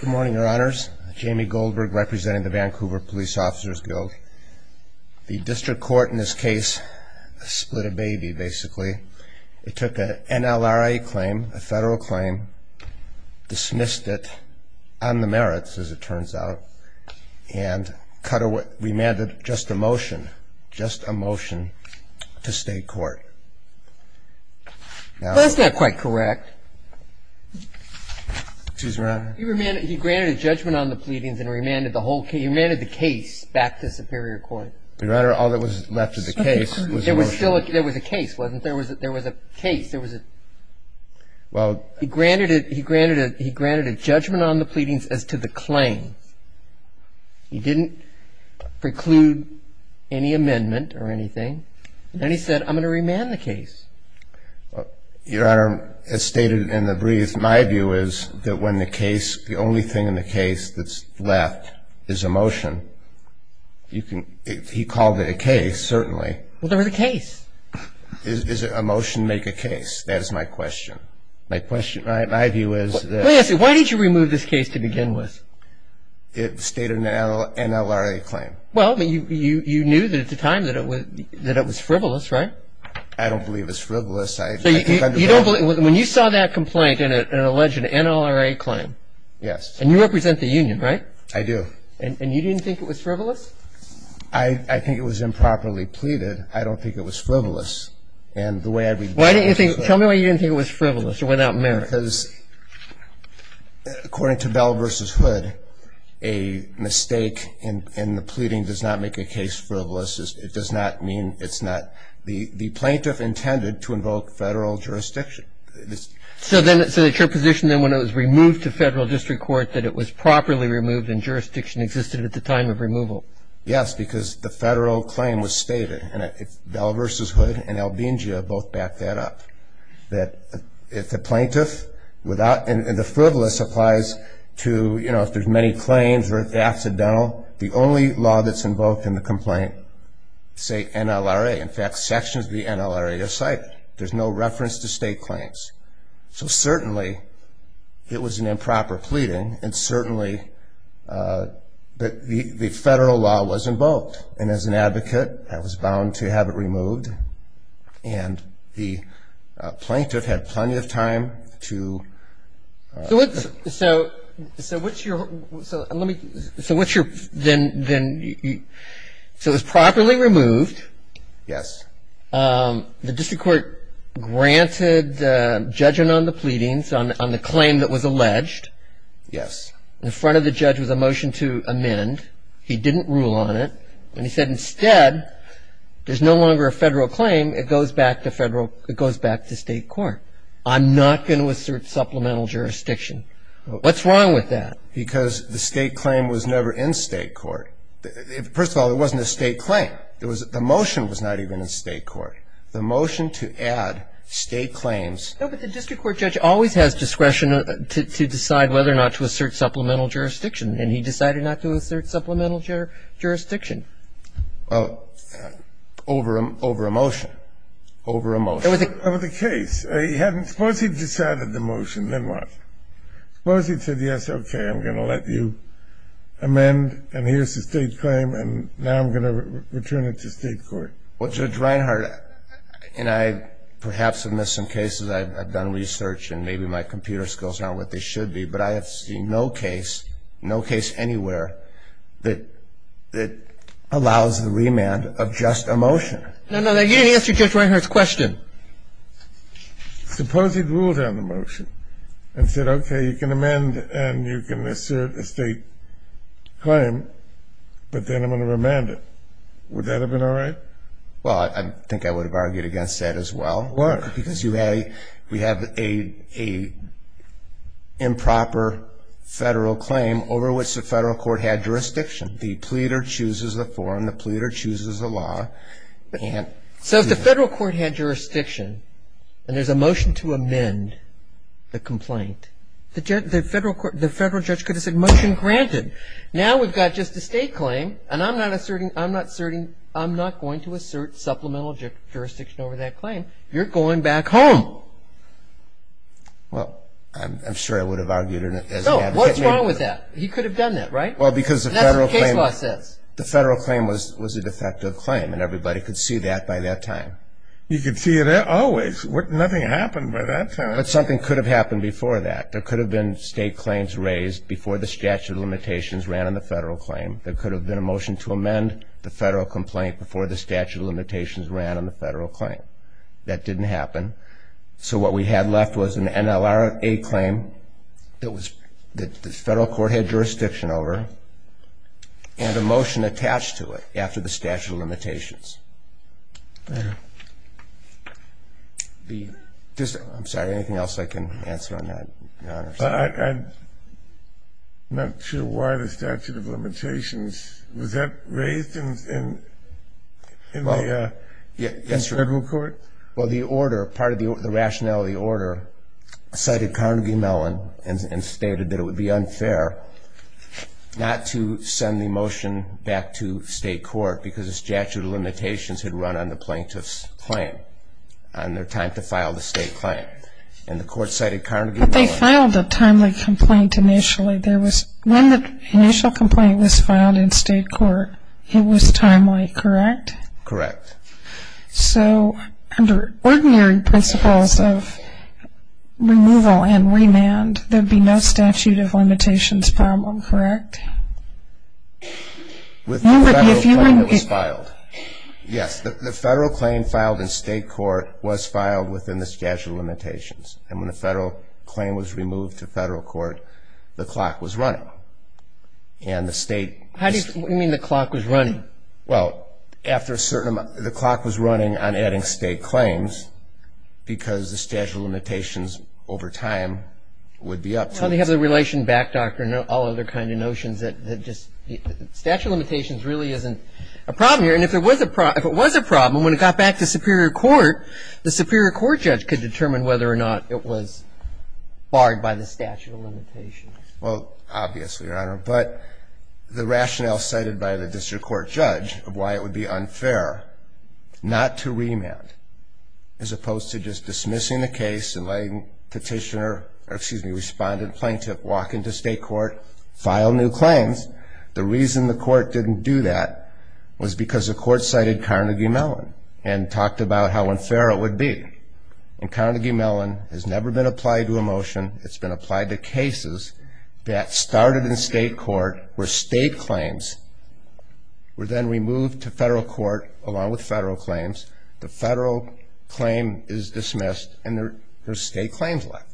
Good morning, your honors. Jamie Goldberg, representing the Vancouver Police Officers Guild. The district court in this case split a baby, basically. It took an NLRA claim, a federal claim, dismissed it on the merits, as it turns out, and cut away, remanded just a motion, just a motion, to state court. That's not quite correct. Excuse me, your honor. He granted a judgment on the pleadings and remanded the case back to superior court. Your honor, all that was left of the case was the motion. There was a case, wasn't there? There was a case. He granted a judgment on the pleadings as to the claim. He didn't preclude any amendment or anything. Then he said, I'm going to remand the case. Your honor, as stated in the brief, my view is that when the case, the only thing in the case that's left is a motion, he called it a case, certainly. Well, there was a case. Does a motion make a case? That is my question. My question, my view is that... Let me ask you, why did you remove this case to begin with? It stated an NLRA claim. Well, you knew at the time that it was frivolous, right? I don't believe it's frivolous. When you saw that complaint in an alleged NLRA claim... Yes. And you represent the union, right? I do. And you didn't think it was frivolous? I think it was improperly pleaded. I don't think it was frivolous. Tell me why you didn't think it was frivolous or without merit. Because according to Bell v. Hood, a mistake in the pleading does not make a case frivolous. It does not mean it's not... The plaintiff intended to invoke federal jurisdiction. So your position then, when it was removed to federal district court, that it was properly removed and jurisdiction existed at the time of removal? Yes, because the federal claim was stated. And Bell v. Hood and Albingia both backed that up, that if the plaintiff without... And the frivolous applies to, you know, if there's many claims or if they're accidental. The only law that's invoked in the complaint is, say, NLRA. In fact, sections of the NLRA are cited. There's no reference to state claims. So certainly it was an improper pleading, and certainly the federal law was invoked. And as an advocate, I was bound to have it removed, and the plaintiff had plenty of time to... So what's your... So let me... So what's your... Then... So it was properly removed. Yes. The district court granted judging on the pleadings on the claim that was alleged. Yes. In front of the judge was a motion to amend. He didn't rule on it. And he said, instead, there's no longer a federal claim. It goes back to federal... It goes back to state court. I'm not going to assert supplemental jurisdiction. What's wrong with that? Because the state claim was never in state court. First of all, it wasn't a state claim. The motion was not even in state court. The motion to add state claims... No, but the district court judge always has discretion to decide whether or not to assert supplemental jurisdiction, and he decided not to assert supplemental jurisdiction. Well, over a motion. Over a motion. Over the case. Suppose he decided the motion, then what? Suppose he said, yes, okay, I'm going to let you amend, and here's the state claim, and now I'm going to return it to state court. Well, Judge Reinhart, and I perhaps have missed some cases. I've done research, and maybe my computer skills aren't what they should be, but I have seen no case, no case anywhere, that allows the remand of just a motion. No, no, you didn't answer Judge Reinhart's question. Suppose he ruled on the motion and said, okay, you can amend and you can assert a state claim, but then I'm going to remand it. Would that have been all right? Well, I think I would have argued against that as well. Why? Because we have an improper federal claim over which the federal court had jurisdiction. The pleader chooses the form, the pleader chooses the law, and so if the federal court had jurisdiction and there's a motion to amend the complaint, the federal judge could have said, motion granted. Now we've got just a state claim, and I'm not asserting, I'm not going to assert supplemental jurisdiction over that claim. You're going back home. Well, I'm sure I would have argued against that. No, what's wrong with that? He could have done that, right? Well, because the federal claim was a defective claim, and everybody could see that by that time. You could see it always. Nothing happened by that time. But something could have happened before that. There could have been state claims raised before the statute of limitations ran on the federal claim. There could have been a motion to amend the federal complaint before the statute of limitations ran on the federal claim. That didn't happen. So what we had left was an NLRA claim that the federal court had jurisdiction over and a motion attached to it after the statute of limitations. I'm sorry, anything else I can answer on that? I'm not sure why the statute of limitations. Was that raised in the federal court? Well, the order, part of the rationale of the order cited Carnegie Mellon and stated that it would be unfair not to send the motion back to state court because the statute of limitations had run on the plaintiff's claim on their time to file the state claim. And the court cited Carnegie Mellon. But they filed a timely complaint initially. When the initial complaint was filed in state court, it was timely, correct? Correct. So under ordinary principles of removal and remand, there would be no statute of limitations problem, correct? With the federal claim that was filed. Yes, the federal claim filed in state court was filed within the statute of limitations. And when the federal claim was removed to federal court, the clock was running. And the state. What do you mean the clock was running? Well, after a certain amount, the clock was running on adding state claims because the statute of limitations over time would be up to it. Well, they have the relation back, Doctor, and all other kind of notions that just statute of limitations really isn't a problem here. And if it was a problem, when it got back to superior court, the superior court judge could determine whether or not it was barred by the statute of limitations. Well, obviously, Your Honor. But the rationale cited by the district court judge of why it would be unfair not to remand, as opposed to just dismissing the case and letting petitioner, or excuse me, respondent plaintiff walk into state court, file new claims, the reason the court didn't do that was because the court cited Carnegie Mellon and talked about how unfair it would be. And Carnegie Mellon has never been applied to a motion. It's been applied to cases that started in state court where state claims were then removed to federal court, along with federal claims. The federal claim is dismissed, and there are state claims left.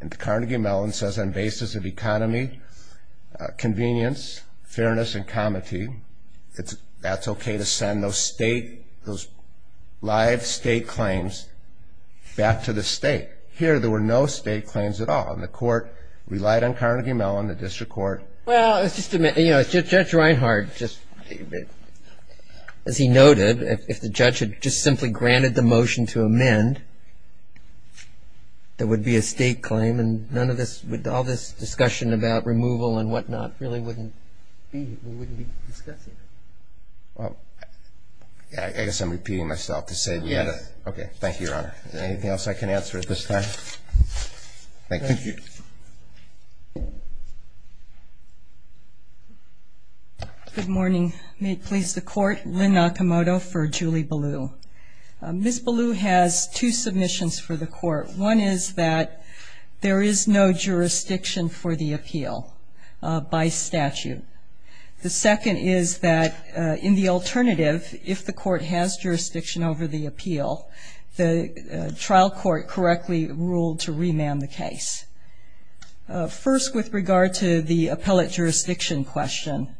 And Carnegie Mellon says on basis of economy, convenience, fairness, and comity, that's okay to send those live state claims back to the state. Here, there were no state claims at all. And the court relied on Carnegie Mellon, the district court. Well, it's just, you know, Judge Reinhardt just, as he noted, if the judge had just simply granted the motion to amend, there would be a state claim, and none of this, all this discussion about removal and whatnot really wouldn't be, we wouldn't be discussing it. Well, I guess I'm repeating myself to say we had a. Thank you, Your Honor. Anything else I can answer at this time? Thank you. Good morning. May it please the court, Lynn Nakamoto for Julie Ballew. Ms. Ballew has two submissions for the court. One is that there is no jurisdiction for the appeal by statute. The second is that in the alternative, if the court has jurisdiction over the appeal, the trial court correctly ruled to remand the case. First, with regard to the appellate jurisdiction question,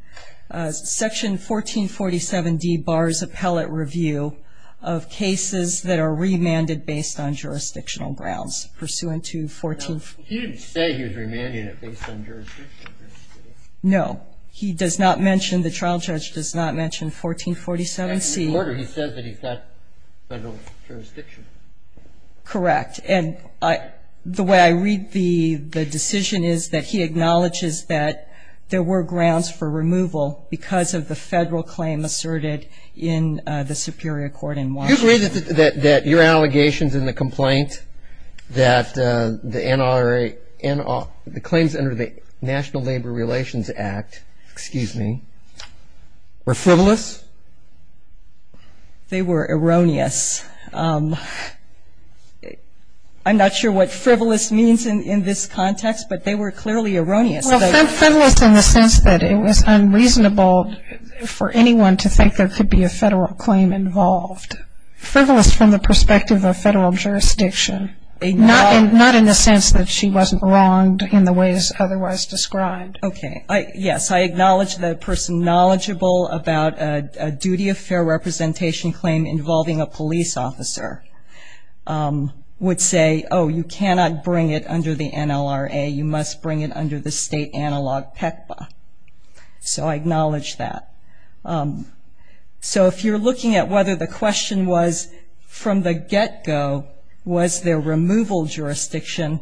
Section 1447D bars appellate review of cases that are remanded based on jurisdictional grounds, pursuant to 14. You didn't say he was remanding it based on jurisdiction. No. He does not mention, the trial judge does not mention 1447C. He says that he's got federal jurisdiction. Correct. And the way I read the decision is that he acknowledges that there were grounds for removal because of the federal claim asserted in the superior court in Washington. Do you agree that your allegations in the complaint that the claims under the National Labor Relations Act, excuse me, were frivolous? They were erroneous. I'm not sure what frivolous means in this context, but they were clearly erroneous. Well, frivolous in the sense that it was unreasonable for anyone to think there could be a federal claim involved. Frivolous from the perspective of federal jurisdiction, not in the sense that she wasn't wronged in the ways otherwise described. Okay. Yes, I acknowledge the person knowledgeable about a duty of fair representation claim involving a police officer would say, oh, you cannot bring it under the NLRA, you must bring it under the state analog PECPA. So I acknowledge that. So if you're looking at whether the question was from the get-go was there removal jurisdiction,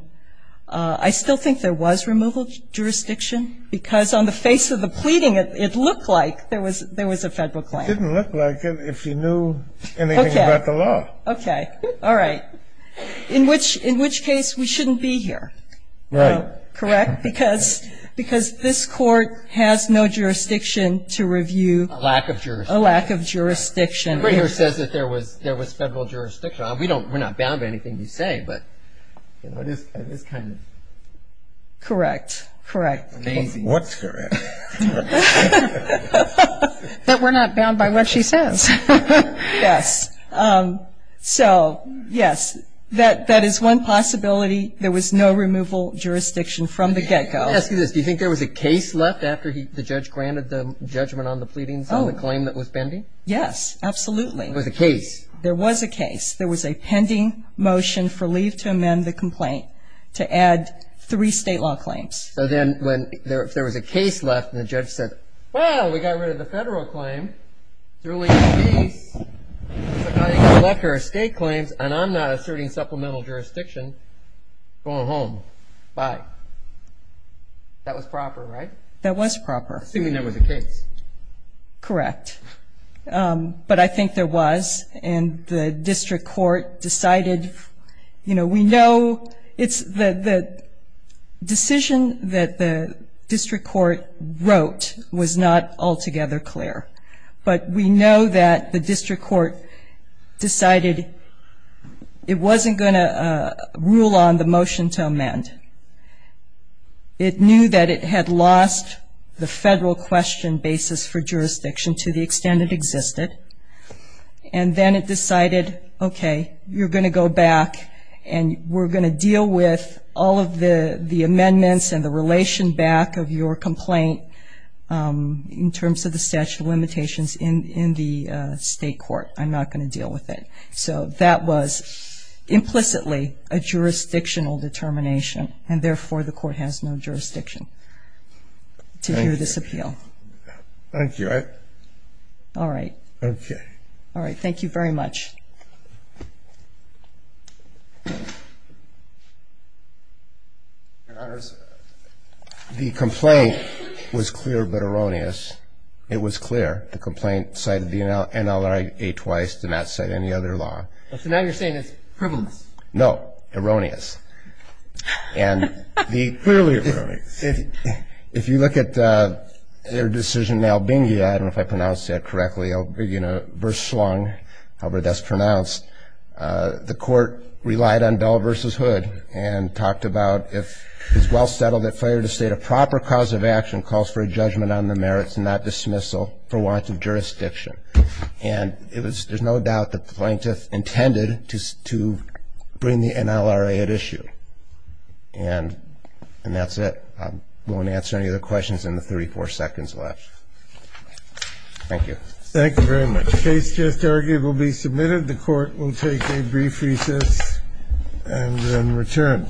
I still think there was removal jurisdiction because on the face of the pleading, it looked like there was a federal claim. It didn't look like it if you knew anything about the law. Okay. All right. In which case, we shouldn't be here. Right. Correct? Because this court has no jurisdiction to review. A lack of jurisdiction. A lack of jurisdiction. Everybody here says that there was federal jurisdiction. We're not bound by anything you say, but it is kind of amazing. Correct. Correct. What's correct? That we're not bound by what she says. Yes. So, yes, that is one possibility. There was no removal jurisdiction from the get-go. Let me ask you this. Do you think there was a case left after the judge granted the judgment on the pleadings on the claim that was pending? Yes, absolutely. There was a case. There was a case. There was a pending motion for leave to amend the complaint to add three state law claims. So then if there was a case left and the judge said, well, we got rid of the federal claim, there's only a case, there's a pending collector of state claims, and I'm not asserting supplemental jurisdiction, going home. Bye. That was proper, right? That was proper. Assuming there was a case. Correct. But I think there was, and the district court decided. You know, we know it's the decision that the district court wrote was not altogether clear. But we know that the district court decided it wasn't going to rule on the motion to amend. It knew that it had lost the federal question basis for jurisdiction to the extent it existed. And then it decided, okay, you're going to go back and we're going to deal with all of the amendments and the relation back of your complaint in terms of the statute of limitations in the state court. I'm not going to deal with it. So that was implicitly a jurisdictional determination, and therefore the court has no jurisdiction to hear this appeal. Thank you. All right. Okay. All right. Thank you very much. Your Honors, the complaint was clear but erroneous. It was clear. The complaint cited the NLRA twice, did not cite any other law. So now you're saying it's frivolous. No. Erroneous. And the clearly erroneous. If you look at their decision in Albingia, I don't know if I pronounced that correctly, verse slung, however that's pronounced. The court relied on Bell v. Hood and talked about, if it's well settled that failure to state a proper cause of action calls for a judgment on the merits and not dismissal for want of jurisdiction. And there's no doubt that the plaintiff intended to bring the NLRA at issue. And that's it. I won't answer any other questions in the 34 seconds left. Thank you. Thank you very much. The case just argued will be submitted. The court will take a brief recess and then return.